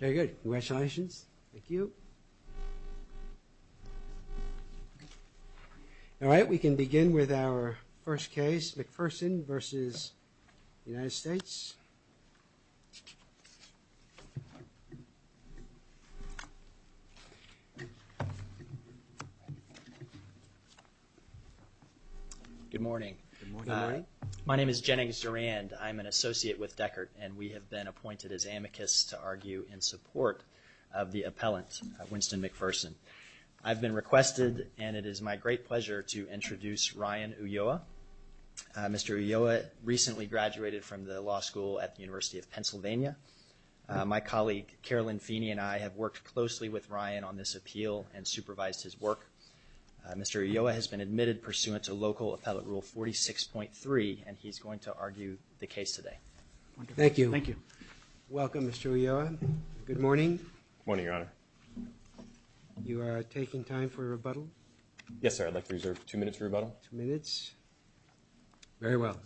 Very good. Congratulations. Thank you. All right, we can begin with our first case, McPherson v. USAetal. Good morning. My name is Jennings Durand. I'm an associate with Deckert, and we have been appointed as amicus to argue in support of the appellant, Winston McPherson. I've been requested, and it is my great pleasure to introduce Ryan Ulloa. Mr. Ulloa recently graduated from the law school at the University of Pennsylvania. My colleague Carolyn Feeney and I have worked closely with Ryan on this appeal and supervised his work. Mr. Ulloa has been admitted pursuant to local appellate rule 46.3, and he's going to argue the case today. Thank you. Thank you. Welcome, Mr. Ulloa. Good morning. Good morning, Your Honor. You are taking time for a rebuttal? Yes, sir. I'd like to reserve two minutes for rebuttal. Two minutes. Very well.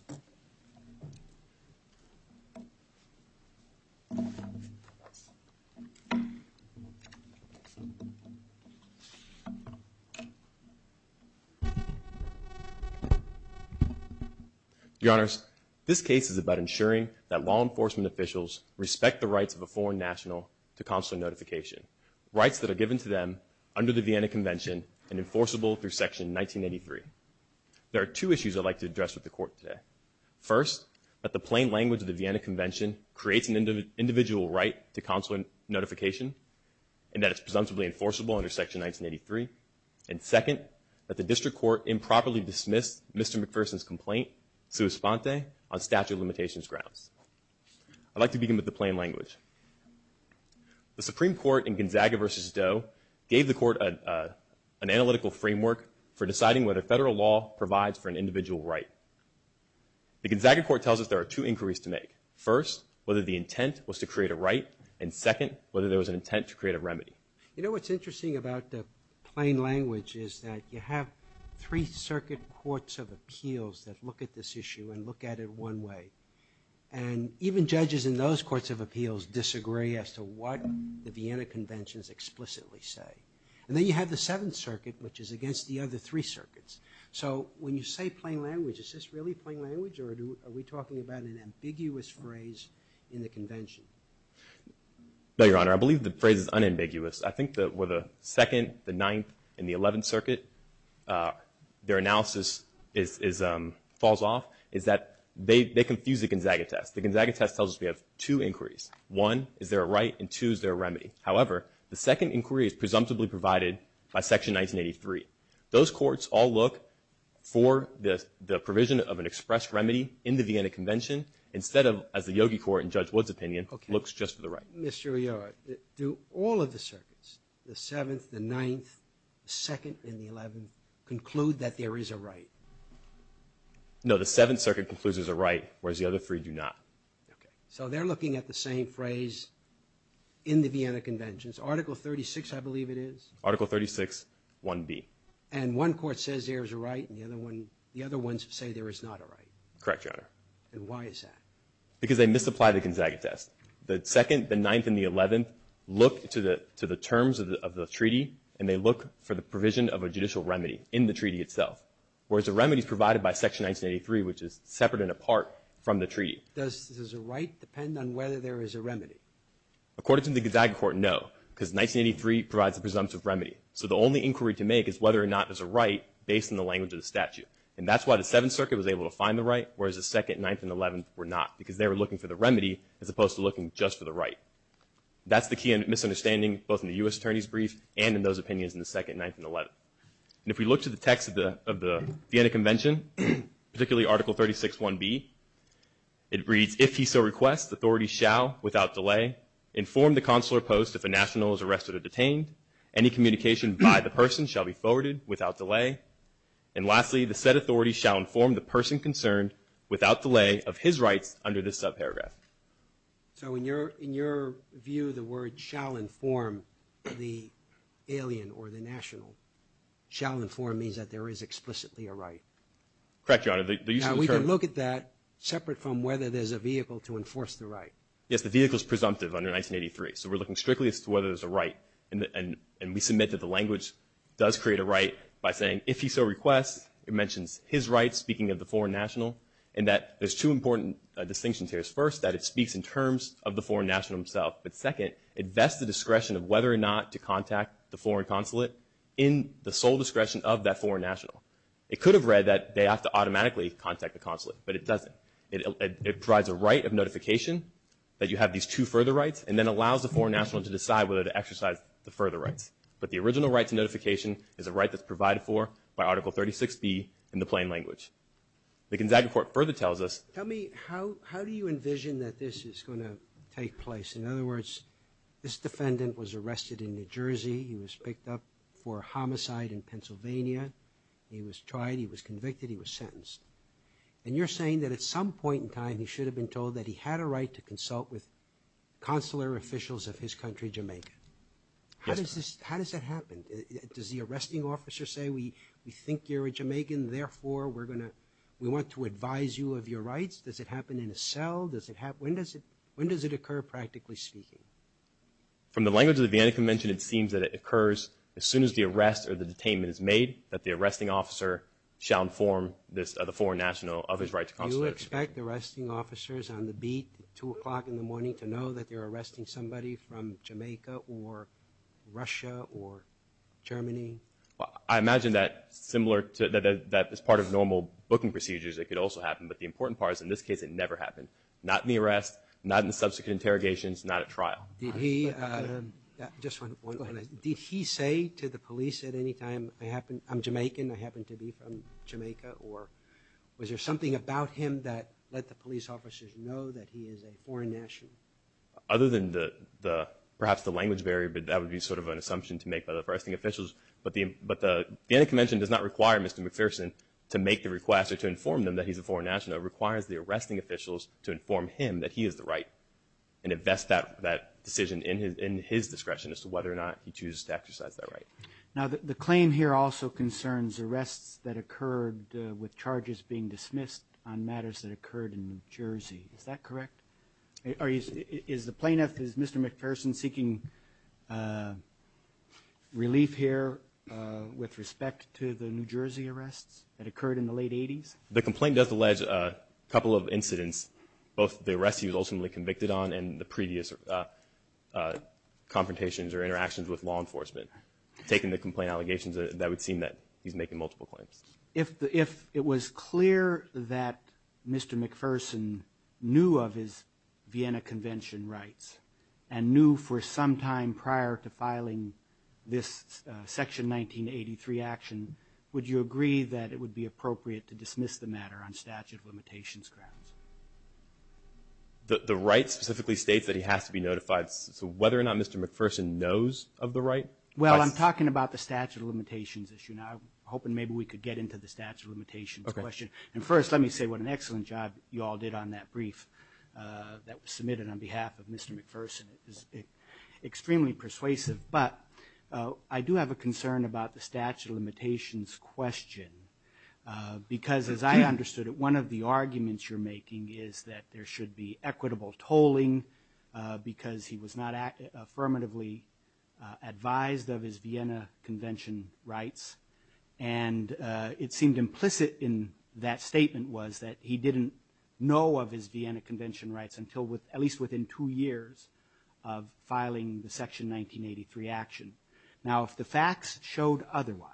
Your Honor, this case is about ensuring that law enforcement officials respect the rights of a foreign national to consular notification, rights that are given to them under the Vienna Convention and enforceable through Section 1983. There are two issues I'd like to address with the Court today. First, that the plain language of the Vienna Convention creates an individual right to consular notification and that it's presumptively enforceable under Section 1983. And second, that the District Court improperly dismissed Mr. McPherson's complaint, sua sponte, on statute of limitations grounds. I'd like to begin with the plain language. The Supreme Court in Gonzaga v. Doe gave the Court an analytical framework for deciding whether federal law provides for an individual right. The Gonzaga Court tells us there are two inquiries to make. First, whether the intent was to create a right. And second, whether there was an intent to create a remedy. You know what's interesting about the plain language is that you have three circuit courts of appeals that look at this issue and look at it one way. And even judges in those courts of appeals disagree as to what the Vienna Convention is explicitly saying. And then you have the Seventh Circuit, which is against the other three circuits. So when you say plain language, is this really plain language or are we talking about an ambiguous phrase in the Convention? No, Your Honor. I believe the phrase is unambiguous. I think that with the Second, the Ninth, and the Eleventh Circuit, their analysis falls off is that they confuse the Gonzaga test. The Gonzaga test tells us we have two inquiries. One, is there a right? And two, is there a remedy? However, the second inquiry is presumptively provided by Section 1983. Those courts all look for the provision of an express remedy in the Vienna Convention instead of, as the Yogi Court in Judge Wood's opinion, looks just for the right. Mr. O'Yara, do all of the circuits, the Seventh, the Ninth, the Second, and the Eleventh, conclude that there is a right? No, the Seventh Circuit concludes there's a right, whereas the other three do not. Okay. So they're looking at the same phrase in the Vienna Conventions. Article 36, I believe it is? Article 36, 1B. And one court says there is a right and the other ones say there is not a right? Correct, Your Honor. And why is that? Because they misapply the Gonzaga test. The Second, the Ninth, and the Eleventh look to the terms of the treaty and they look for the provision of a judicial remedy in the treaty itself, whereas the remedy is provided by Section 1983, which is separate and apart from the treaty. Does the right depend on whether there is a remedy? According to the Gonzaga Court, no, because 1983 provides a presumptive remedy. So the only inquiry to make is whether or not there's a right based on the language of the statute. And that's why the Seventh Circuit was able to find the right, whereas the Second, Ninth, and Eleventh were not, because they were looking for the remedy as opposed to looking just for the right. That's the key misunderstanding both in the U.S. Attorney's Brief and in those opinions in the Second, Ninth, and Eleventh. And if we look to the text of the Vienna Convention, particularly Article 36, 1B, it reads, if he so requests, authorities shall, without delay, inform the consular post if a national is arrested or detained. Any communication by the person shall be forwarded without delay. And lastly, the said authority shall inform the person concerned without delay of his rights under this subparagraph. So in your view, the word shall inform the alien or the national, shall inform means that there is explicitly a right. Correct, Your Honor. Now, we can look at that separate from whether there's a vehicle to enforce the right. Yes, the vehicle is presumptive under 1983, so we're looking strictly as to whether there's a right. And we submit that the language does create a right by saying, if he so requests, it mentions his rights, speaking of the foreign national, and that there's two important distinctions here. First, that it speaks in terms of the foreign national himself. But second, it vests the discretion of whether or not to contact the foreign consulate in the sole discretion of that foreign national. It could have read that they have to automatically contact the consulate, but it doesn't. It provides a right of notification that you have these two further rights and then allows the foreign national to decide whether to exercise the further rights. But the original right to notification is a right that's provided for by Article 36B in the plain language. The Gonzaga Court further tells us. Tell me, how do you envision that this is going to take place? In other words, this defendant was arrested in New Jersey. He was picked up for homicide in Pennsylvania. He was tried. He was convicted. He was sentenced. And you're saying that at some point in time, he should have been told that he had a right to consult with consular officials of his country, Jamaica. Yes, sir. How does that happen? Does the arresting officer say, we think you're a Jamaican, therefore we want to advise you of your rights? Does it happen in a cell? When does it occur, practically speaking? From the language of the Vienna Convention, it seems that it occurs as soon as the arrest or the detainment is made, that the arresting officer shall inform the foreign national of his right to consult. Do you expect the arresting officers on the beat at 2 o'clock in the morning to know that they're arresting somebody from Jamaica or Russia or Germany? I imagine that is part of normal booking procedures. It could also happen. But the important part is in this case it never happened, not in the arrest, not in the subsequent interrogations, not at trial. Did he say to the police at any time, I'm Jamaican, I happen to be from Jamaica, or was there something about him that let the police officers know that he is a foreign national? Other than perhaps the language barrier, but that would be sort of an assumption to make by the arresting officials. But the Vienna Convention does not require Mr. McPherson to make the request or to inform them that he's a foreign national. It requires the arresting officials to inform him that he has the right and invest that decision in his discretion as to whether or not he chooses to exercise that right. Now, the claim here also concerns arrests that occurred with charges being dismissed on matters that occurred in New Jersey. Is that correct? Is the plaintiff, is Mr. McPherson seeking relief here with respect to the New Jersey arrests that occurred in the late 80s? The complaint does allege a couple of incidents, both the arrests he was ultimately convicted on and the previous confrontations or interactions with law enforcement. Taking the complaint allegations, that would seem that he's making multiple claims. If it was clear that Mr. McPherson knew of his Vienna Convention rights and knew for some time prior to filing this Section 1983 action, would you agree that it would be appropriate to dismiss the matter on statute of limitations grounds? The right specifically states that he has to be notified. So whether or not Mr. McPherson knows of the right? Well, I'm talking about the statute of limitations issue now. I'm hoping maybe we could get into the statute of limitations question. And first, let me say what an excellent job you all did on that brief that was submitted on behalf of Mr. McPherson. It was extremely persuasive. But I do have a concern about the statute of limitations question. Because as I understood it, one of the arguments you're making is that there should be equitable tolling because he was not affirmatively advised of his Vienna Convention rights. And it seemed implicit in that statement was that he didn't know of his Vienna Convention rights until at least within two years of filing the Section 1983 action. Now, if the facts showed otherwise,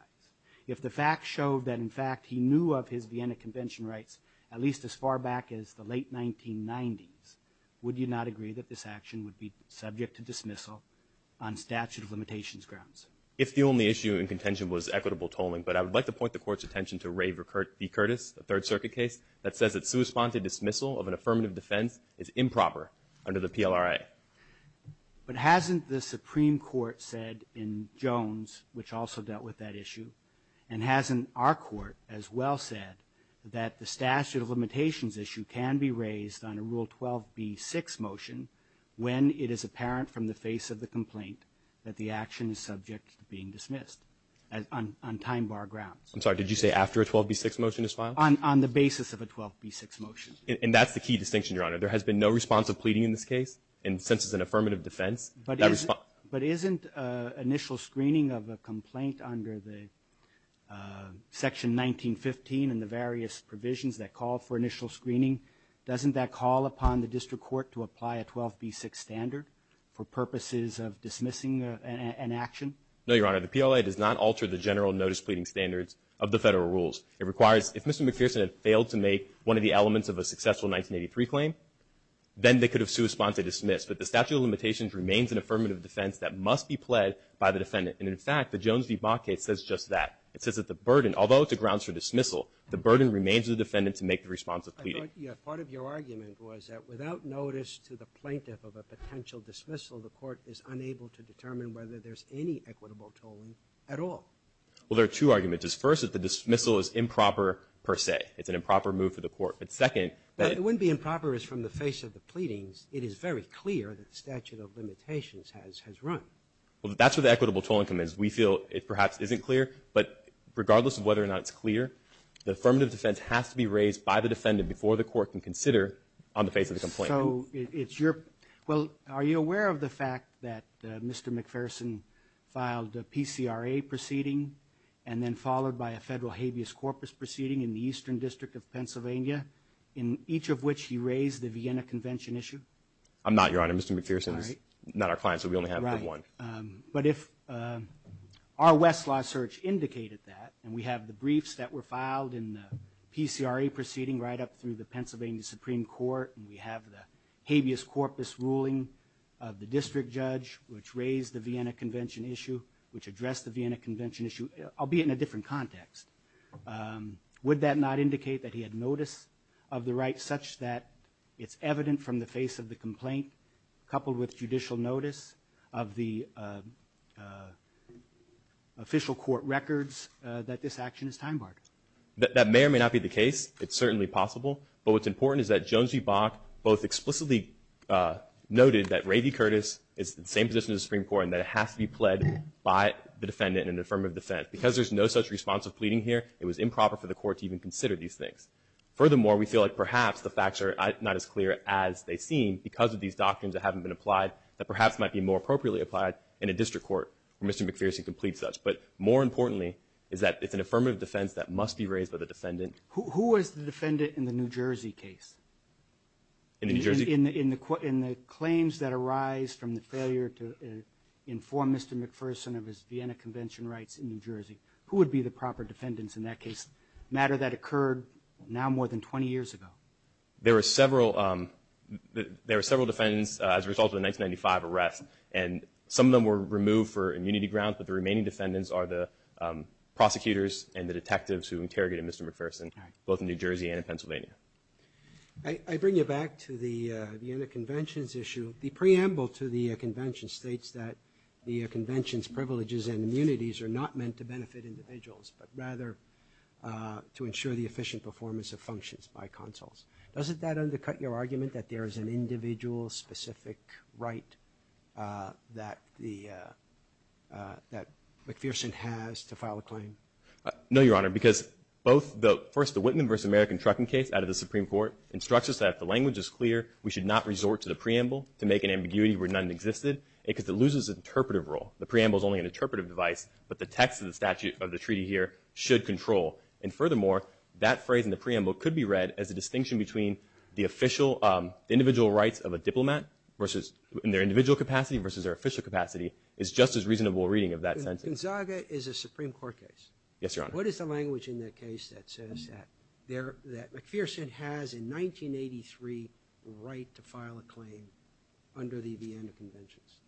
if the facts showed that, in fact, he knew of his Vienna Convention rights at least as far back as the late 1990s, would you not agree that this action would be subject to dismissal on statute of limitations grounds? If the only issue in contention was equitable tolling. But I would like to point the Court's attention to Ray B. Curtis, a Third Circuit case, that says that sui sponte dismissal of an affirmative defense is improper under the PLRA. But hasn't the Supreme Court said in Jones, which also dealt with that issue, and hasn't our Court as well said that the statute of limitations issue can be raised on a Rule 12b-6 motion when it is apparent from the face of the complaint that the action is subject to being dismissed on time bar grounds? I'm sorry, did you say after a 12b-6 motion is filed? On the basis of a 12b-6 motion. And that's the key distinction, Your Honor. There has been no response of pleading in this case. And since it's an affirmative defense, that response. But isn't initial screening of a complaint under the Section 1915 and the various provisions that call for initial screening, doesn't that call upon the district court to apply a 12b-6 standard for purposes of dismissing an action? No, Your Honor. The PLRA does not alter the general notice pleading standards of the Federal rules. It requires, if Mr. McPherson had failed to make one of the elements of a successful 1983 claim, then they could have sued, sponsored, dismissed. But the statute of limitations remains an affirmative defense that must be pled by the defendant. And, in fact, the Jones v. Baugh case says just that. It says that the burden, although it's a grounds for dismissal, the burden remains the defendant to make the response of pleading. Part of your argument was that without notice to the plaintiff of a potential dismissal, the Court is unable to determine whether there's any equitable tolling at all. Well, there are two arguments. First, that the dismissal is improper, per se. It's an improper move for the Court. But second, that it wouldn't be improper as from the face of the pleadings. It is very clear that the statute of limitations has run. Well, that's where the equitable toll income is. We feel it perhaps isn't clear. But regardless of whether or not it's clear, the affirmative defense has to be raised by the defendant before the Court can consider on the face of the complaint. So it's your – well, are you aware of the fact that Mr. McPherson filed a PCRA proceeding and then followed by a federal habeas corpus proceeding in the Eastern District of Pennsylvania, in each of which he raised the Vienna Convention issue? I'm not, Your Honor. Mr. McPherson is not our client, so we only have one. Right. But if our Westlaw search indicated that, and we have the briefs that were filed in the PCRA proceeding right up through the Pennsylvania Supreme Court, and we have the habeas corpus ruling of the district judge which raised the Vienna Convention issue, albeit in a different context, would that not indicate that he had notice of the right such that it's evident from the face of the complaint, coupled with judicial notice of the official court records, that this action is time-barred? That may or may not be the case. It's certainly possible. But what's important is that Jones v. Bach both explicitly noted that Ray v. Curtis is in the same position as the Supreme Court and that it has to be pled by the defendant in an affirmative defense. Because there's no such response of pleading here, it was improper for the court to even consider these things. Furthermore, we feel like perhaps the facts are not as clear as they seem because of these doctrines that haven't been applied that perhaps might be more appropriately applied in a district court where Mr. McPherson can plead such. But more importantly is that it's an affirmative defense that must be raised by the defendant. Who was the defendant in the New Jersey case? In the New Jersey? From the failure to inform Mr. McPherson of his Vienna Convention rights in New Jersey. Who would be the proper defendants in that case? A matter that occurred now more than 20 years ago. There were several defendants as a result of the 1995 arrest. And some of them were removed for immunity grounds, but the remaining defendants are the prosecutors and the detectives who interrogated Mr. McPherson both in New Jersey and in Pennsylvania. I bring you back to the Vienna Convention's issue. The preamble to the convention states that the convention's privileges and immunities are not meant to benefit individuals, but rather to ensure the efficient performance of functions by consuls. Doesn't that undercut your argument that there is an individual specific right that McPherson has to file a claim? No, Your Honor, because both the – first, the Whitman v. American trucking case out of the Supreme Court instructs us that if the language is clear, we should not resort to the preamble to make an ambiguity where none existed because it loses interpretive role. The preamble is only an interpretive device, but the text of the statute of the treaty here should control. And furthermore, that phrase in the preamble could be read as a distinction between the official – the individual rights of a diplomat versus – in their individual capacity versus their official capacity is just as reasonable a reading of that sentence. Gonzaga is a Supreme Court case. Yes, Your Honor. What is the language in that case that says that McPherson has in 1983 the right to file a claim under the Vienna Conventions?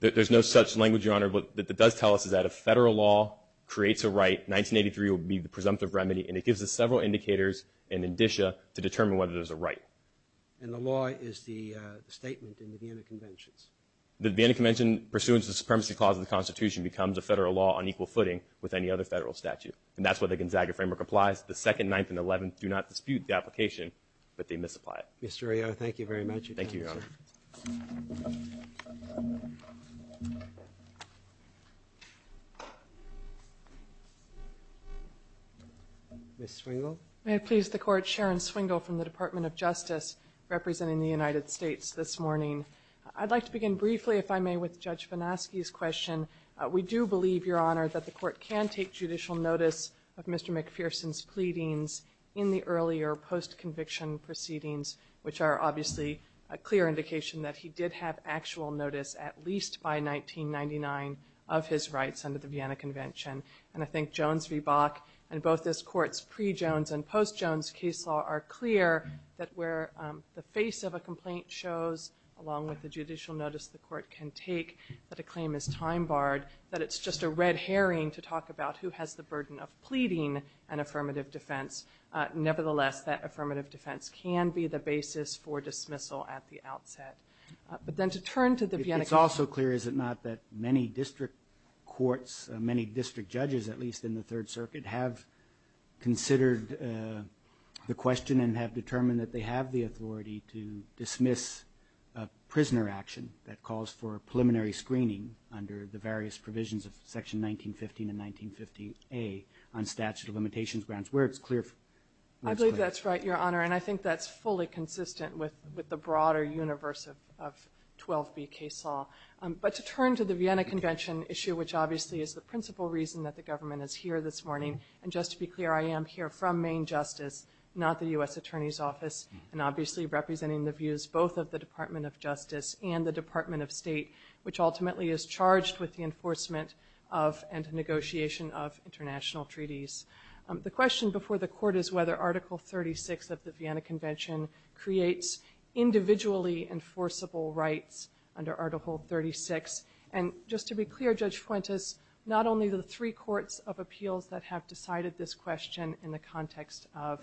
There's no such language, Your Honor. What it does tell us is that if federal law creates a right, 1983 will be the presumptive remedy, and it gives us several indicators and indicia to determine whether there's a right. And the law is the statement in the Vienna Conventions? The Vienna Convention pursuant to the Supremacy Clause of the Constitution becomes a federal law on equal footing with any other federal statute. And that's where the Gonzaga framework applies. The Second, Ninth, and Eleventh do not dispute the application, but they misapply it. Mr. O'Neill, thank you very much. Thank you, Your Honor. Ms. Swingle? May it please the Court, Sharon Swingle from the Department of Justice representing the United States this morning. I'd like to begin briefly, if I may, with Judge Vanosky's question. We do believe, Your Honor, that the Court can take judicial notice of Mr. McPherson's pleadings in the earlier post-conviction proceedings, which are obviously a clear indication that he did have actual notice at least by 1999 of his rights under the Vienna Convention. And I think Jones v. Bach and both this Court's pre-Jones and post-Jones case law are that a claim is time-barred, that it's just a red herring to talk about who has the burden of pleading an affirmative defense. Nevertheless, that affirmative defense can be the basis for dismissal at the outset. But then to turn to the Vienna Convention. It's also clear, is it not, that many district courts, many district judges at least in the Third Circuit, have considered the question and have determined that they have the authority to dismiss a prisoner action that calls for a preliminary screening under the various provisions of Section 1915 and 1950A on statute of limitations grounds, where it's clear. I believe that's right, Your Honor, and I think that's fully consistent with the broader universe of 12B case law. But to turn to the Vienna Convention issue, which obviously is the principal reason that the government is here this morning, and just to be clear, I am here from Maine Justice, not the U.S. Attorney's Office, and obviously representing the views both of the Department of Justice and the Department of State, which ultimately is charged with the enforcement of and negotiation of international treaties. The question before the Court is whether Article 36 of the Vienna Convention creates individually enforceable rights under Article 36. And just to be clear, Judge Fuentes, not only the three courts of appeals that have decided this question in the context of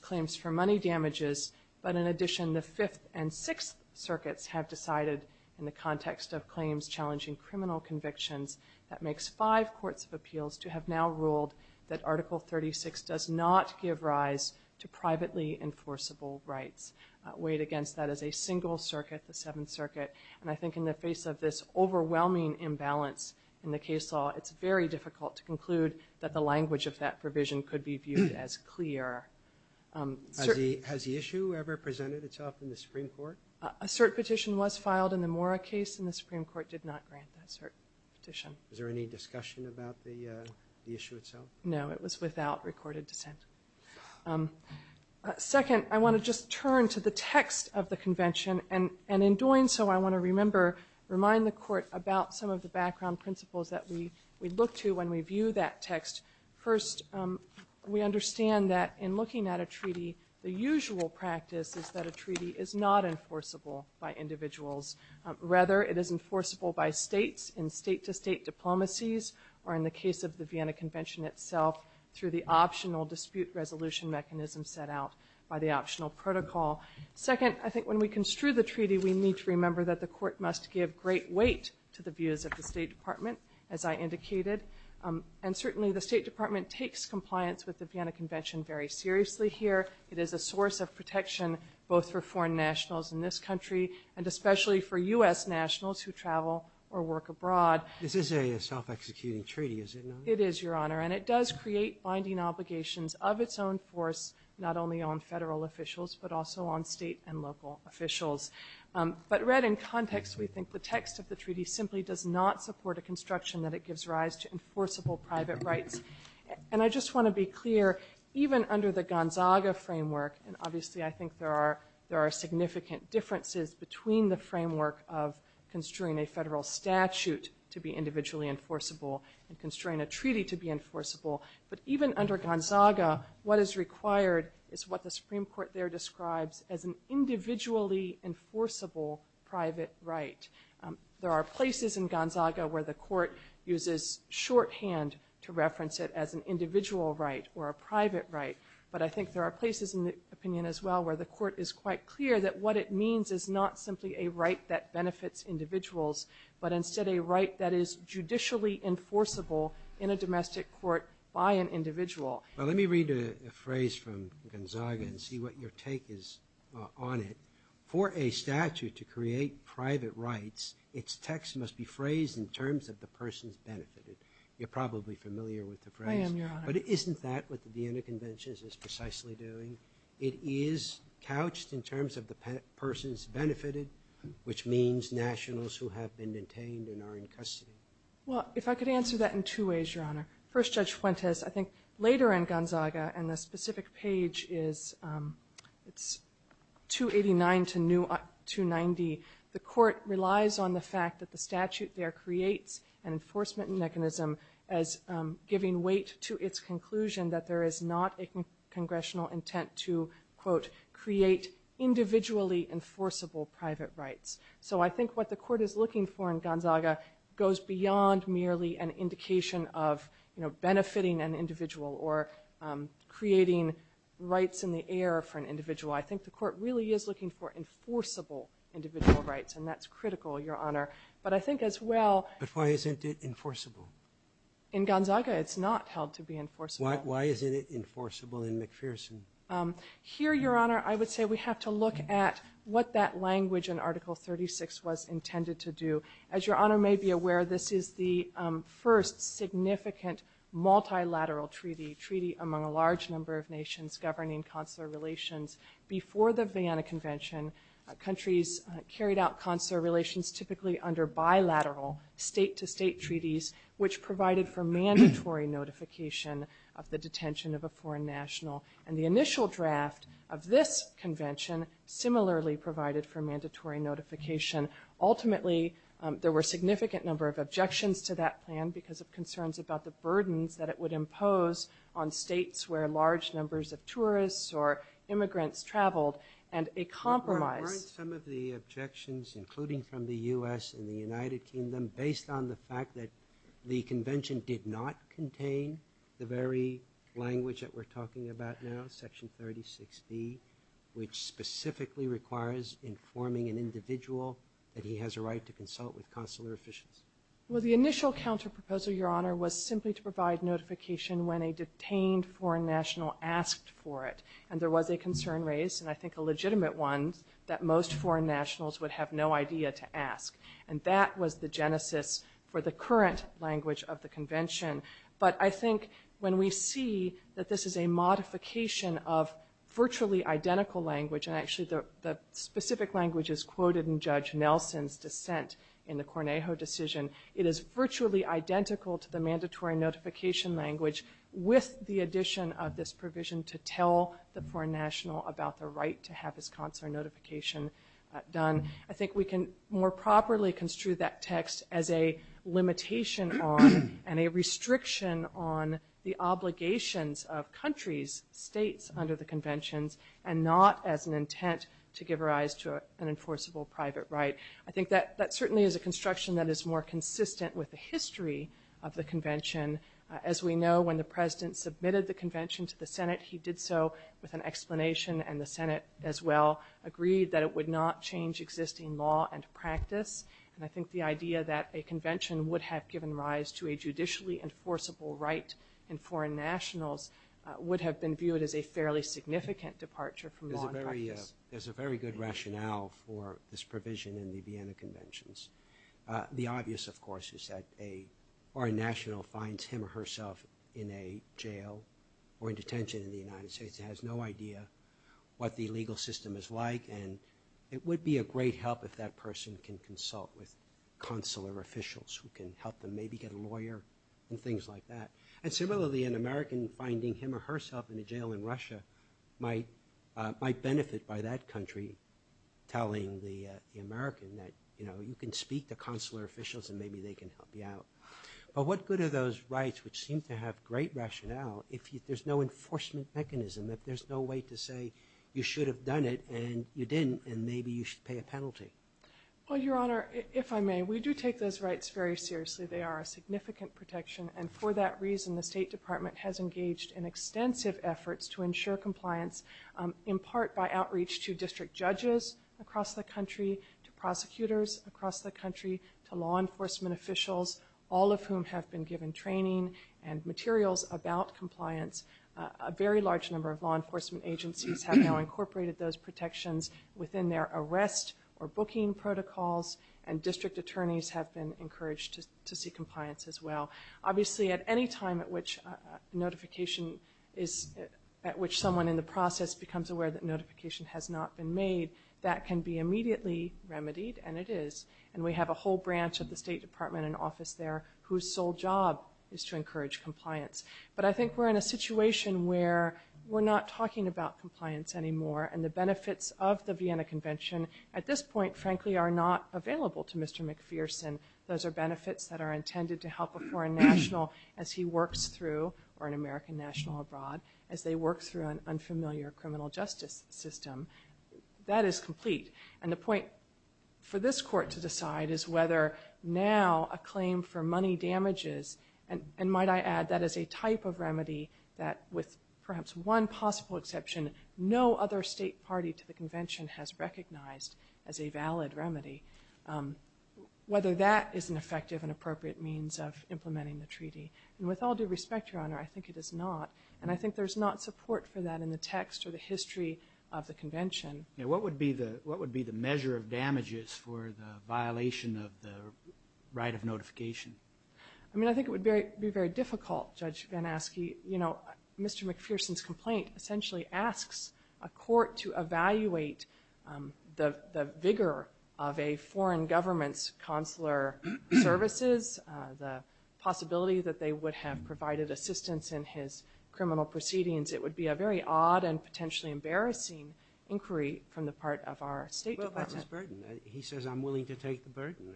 claims for money damages, but in addition, the Fifth and Sixth Circuits have decided in the context of claims challenging criminal convictions that makes five courts of appeals to have now ruled that Article 36 does not give rise to privately enforceable rights. Weighed against that is a single circuit, the Seventh Circuit, and I think in the face of this overwhelming imbalance in the case law, it's very difficult to conclude that the language of that provision could be viewed as clear. Has the issue ever presented itself in the Supreme Court? A cert petition was filed in the Mora case, and the Supreme Court did not grant that cert petition. Is there any discussion about the issue itself? No, it was without recorded dissent. Second, I want to just turn to the text of the Convention, and in doing so, I want to remember, remind the Court about some of the background principles that we look to when we view that text. First, we understand that in looking at a treaty, the usual practice is that a treaty is not enforceable by individuals. Rather, it is enforceable by states in state-to-state diplomacies, or in the case of the Vienna Convention itself, through the optional dispute resolution mechanism set out by the optional protocol. Second, I think when we construe the treaty, we need to remember that the Court must give great weight to the views of the State Department, as I indicated. And certainly, the State Department takes compliance with the Vienna Convention very seriously here. It is a source of protection, both for foreign nationals in this country, and especially for U.S. nationals who travel or work abroad. This is a self-executing treaty, is it not? It is, Your Honor, and it does create binding obligations of its own force, not only on federal officials, but also on state and local officials. But read in context, we think the text of the treaty simply does not support a construction that it gives rise to enforceable private rights. And I just want to be clear, even under the Gonzaga framework, and obviously I think there are significant differences between the framework of construing a federal statute to be individually enforceable and construing a treaty to be enforceable, but even under Gonzaga, what is required is what the Supreme Court there describes as an individually enforceable private right. There are places in Gonzaga where the Court uses shorthand to reference it as an individual right or a private right, but I think there are places in the opinion as well where the Court is quite clear that what it means is not simply a right that benefits individuals, but instead a right that is judicially enforceable in a domestic court by an individual. Well, let me read a phrase from Gonzaga and see what your take is on it. For a statute to create private rights, its text must be phrased in terms of the persons benefited. You're probably familiar with the phrase. I am, Your Honor. But isn't that what the Vienna Convention is precisely doing? It is couched in terms of the persons benefited, which means nationals who have been detained and are in custody. Well, if I could answer that in two ways, Your Honor. First, Judge Fuentes, I think later in Gonzaga, and the specific page is 289 to 290, the Court relies on the fact that the statute there creates an enforcement mechanism as giving weight to its conclusion that there is not a congressional intent to, quote, create individually enforceable private rights. So I think what the Court is looking for in Gonzaga goes beyond merely an indication of benefiting an individual or creating rights in the air for an individual. I think the Court really is looking for enforceable individual rights, and that's critical, Your Honor. But I think as well – But why isn't it enforceable? In Gonzaga, it's not held to be enforceable. Why isn't it enforceable in McPherson? Here, Your Honor, I would say we have to look at what that language in Article 36 was intended to do. As Your Honor may be aware, this is the first significant multilateral treaty, treaty among a large number of nations governing consular relations. Before the Vienna Convention, countries carried out consular relations typically under bilateral state-to-state treaties, which provided for mandatory notification of the detention of a foreign national. And the initial draft of this convention similarly provided for mandatory notification. Ultimately, there were significant number of objections to that plan because of concerns about the burdens that it would impose on states where large numbers of tourists or immigrants traveled, and a compromise – Weren't some of the objections, including from the U.S. and the United Kingdom, based on the fact that the convention did not contain the very language that we're talking about now, Section 36B, which specifically requires informing an individual that he has a right to consult with consular officials? Well, the initial counterproposal, Your Honor, was simply to provide notification when a detained foreign national asked for it. And there was a concern raised, and I think a legitimate one, that most foreign nationals would have no idea to ask. And that was the genesis for the current language of the convention. But I think when we see that this is a modification of virtually identical language, and actually the specific language is quoted in Judge Nelson's dissent in the Cornejo decision, it is virtually identical to the mandatory notification language with the addition of this provision to tell the foreign national about the right to have his consular notification done. I think we can more properly construe that text as a limitation on and a restriction on the obligations of countries, states, under the conventions, and not as an intent to give rise to an enforceable private right. I think that certainly is a construction that is more consistent with the history of the convention. As we know, when the President submitted the convention to the Senate, he did so with an insisting law and practice. And I think the idea that a convention would have given rise to a judicially enforceable right in foreign nationals would have been viewed as a fairly significant departure from law and practice. There's a very good rationale for this provision in the Vienna conventions. The obvious, of course, is that a foreign national finds him or herself in a jail or in detention in the United States and has no idea what the legal system is like. And it would be a great help if that person can consult with consular officials who can help them maybe get a lawyer and things like that. And similarly, an American finding him or herself in a jail in Russia might benefit by that country telling the American that, you know, you can speak to consular officials and maybe they can help you out. But what good are those rights which seem to have great rationale if there's no enforcement mechanism, if there's no way to say you should have done it and you didn't and maybe you should pay a penalty? Well, Your Honor, if I may, we do take those rights very seriously. They are a significant protection. And for that reason, the State Department has engaged in extensive efforts to ensure compliance in part by outreach to district judges across the country, to prosecutors across the country, to law enforcement officials, all of whom have been given training and a very large number of law enforcement agencies have now incorporated those protections within their arrest or booking protocols. And district attorneys have been encouraged to seek compliance as well. Obviously, at any time at which notification is at which someone in the process becomes aware that notification has not been made, that can be immediately remedied, and it is. And we have a whole branch of the State Department in office there whose sole job is to encourage compliance. But I think we're in a situation where we're not talking about compliance anymore and the benefits of the Vienna Convention at this point, frankly, are not available to Mr. McPherson. Those are benefits that are intended to help a foreign national as he works through, or an American national abroad, as they work through an unfamiliar criminal justice system. That is complete. And the point for this Court to decide is whether now a claim for money damages, and might I add that as a type of remedy that with perhaps one possible exception, no other state party to the convention has recognized as a valid remedy, whether that is an effective and appropriate means of implementing the treaty. And with all due respect, Your Honor, I think it is not, and I think there's not support for that in the text or the history of the convention. What would be the measure of damages for the violation of the right of notification? I mean, I think it would be very difficult, Judge Van Aske. You know, Mr. McPherson's complaint essentially asks a court to evaluate the vigor of a foreign government's consular services, the possibility that they would have provided assistance in his criminal proceedings. It would be a very odd and potentially embarrassing inquiry from the part of our State Department. Well, that's a burden. He says I'm willing to take the burden.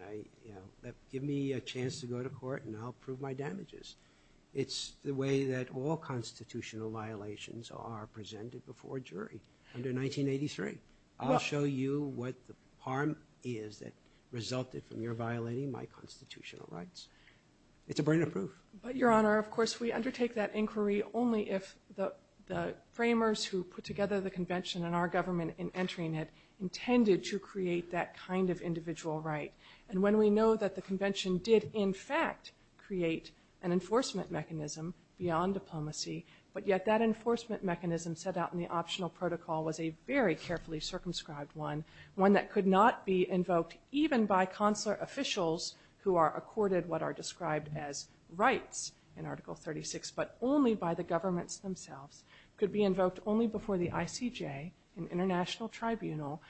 Give me a chance to go to court and I'll prove my damages. It's the way that all constitutional violations are presented before a jury under 1983. I'll show you what the harm is that resulted from your violating my constitutional rights. It's a burden of proof. But, Your Honor, of course we undertake that inquiry only if the framers who put together the And when we know that the convention did in fact create an enforcement mechanism beyond diplomacy, but yet that enforcement mechanism set out in the optional protocol was a very carefully circumscribed one, one that could not be invoked even by consular officials who are accorded what are described as rights in Article 36, but only by the governments themselves, could be invoked only before the ICJ, an international tribunal,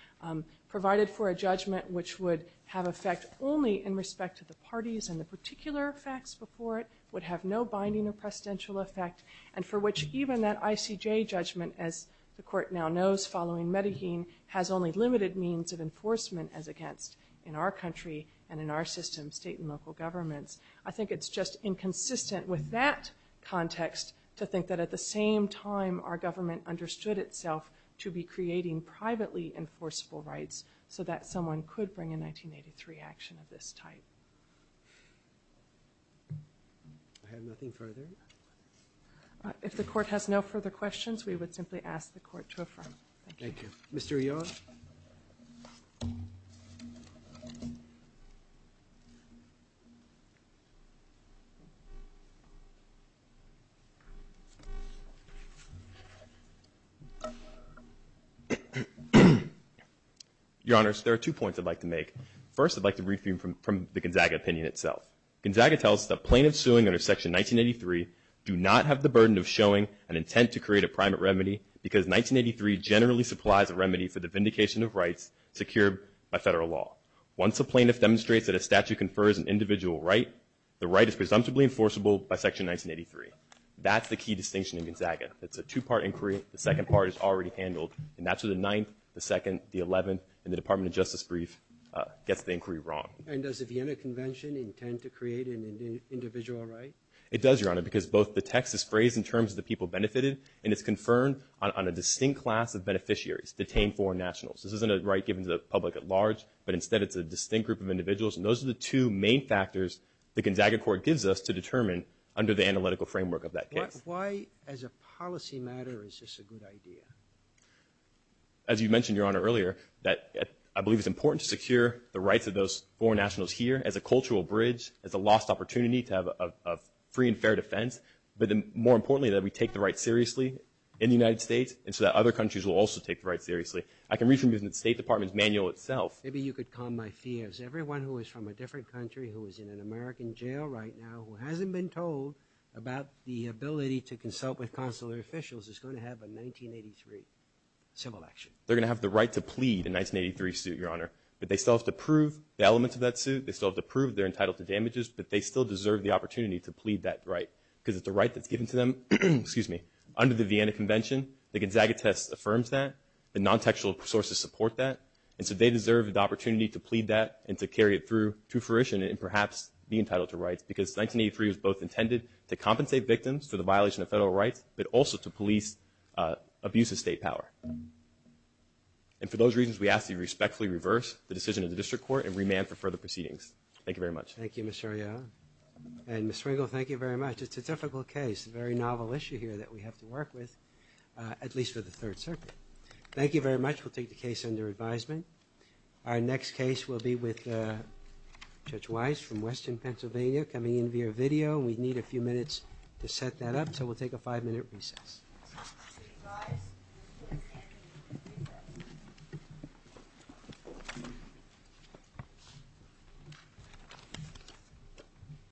provided for a judgment which would have effect only in respect to the parties and the particular facts before it would have no binding or precedential effect, and for which even that ICJ judgment, as the court now knows following Medellin, has only limited means of enforcement as against in our country and in our system, state and local governments. I think it's just inconsistent with that context to think that at the same time our government understood itself to be creating privately enforceable rights so that someone could bring a 1983 action of this type. I have nothing further. If the court has no further questions, we would simply ask the court to affirm. Thank you. Thank you. Thank you. Your Honors, there are two points I'd like to make. First, I'd like to read from the Gonzaga opinion itself. Gonzaga tells us that plaintiffs suing under Section 1983 do not have the burden of showing an intent to create a private remedy because 1983 generally supplies a remedy for the vindication of rights secured by Federal law. Once a plaintiff demonstrates that a statute confers an individual right, the right is presumptively enforceable by Section 1983. That's the key distinction in Gonzaga. It's a two-part inquiry. The second part is already handled, and that's where the Ninth, the Second, the Eleventh, and the Department of Justice brief gets the inquiry wrong. And does the Vienna Convention intend to create an individual right? It does, Your Honor, because both the text is phrased in terms of the people benefited, and it's confirmed on a distinct class of beneficiaries, detained foreign nationals. This isn't a right given to the public at large, but instead it's a distinct group of individuals. And those are the two main factors the Gonzaga court gives us to determine under the analytical framework of that case. Why, as a policy matter, is this a good idea? As you mentioned, Your Honor, earlier, that I believe it's important to secure the rights of those foreign nationals here as a cultural bridge, as a lost opportunity to have a free and fair defense, but more importantly, that we take the right seriously in the United States, and so that other countries will also take the right seriously. I can read from the State Department's manual itself. Maybe you could calm my fears. Everyone who is from a different country, who is in an American jail right now, who hasn't been told about the ability to consult with consular officials is going to have a 1983 civil action. They're going to have the right to plead a 1983 suit, Your Honor, but they still have to prove the elements of that suit. They still have to prove they're entitled to damages, but they still deserve the opportunity to plead that right, because it's a right that's given to them under the Vienna Convention. The Gonzaga test affirms that. The non-textual sources support that. And so they deserve the opportunity to plead that and to carry it through to fruition and perhaps be entitled to rights, because 1983 was both intended to compensate victims for the violation of federal rights, but also to police abuse of state power. And for those reasons, we ask that you respectfully reverse the decision of the District Court and remand for further proceedings. Thank you very much. Thank you, Mr. O'Neill. And Ms. Swiggle, thank you very much. It's a difficult case, a very novel issue here that we have to work with, at least for the Third Circuit. Thank you very much. We'll take the case under advisement. Our next case will be with Judge Weiss from Western Pennsylvania, coming in via video. We need a few minutes to set that up, so we'll take a five-minute recess. Thank you, Judge. We'll take five minutes to set that up, so we'll take a five-minute recess.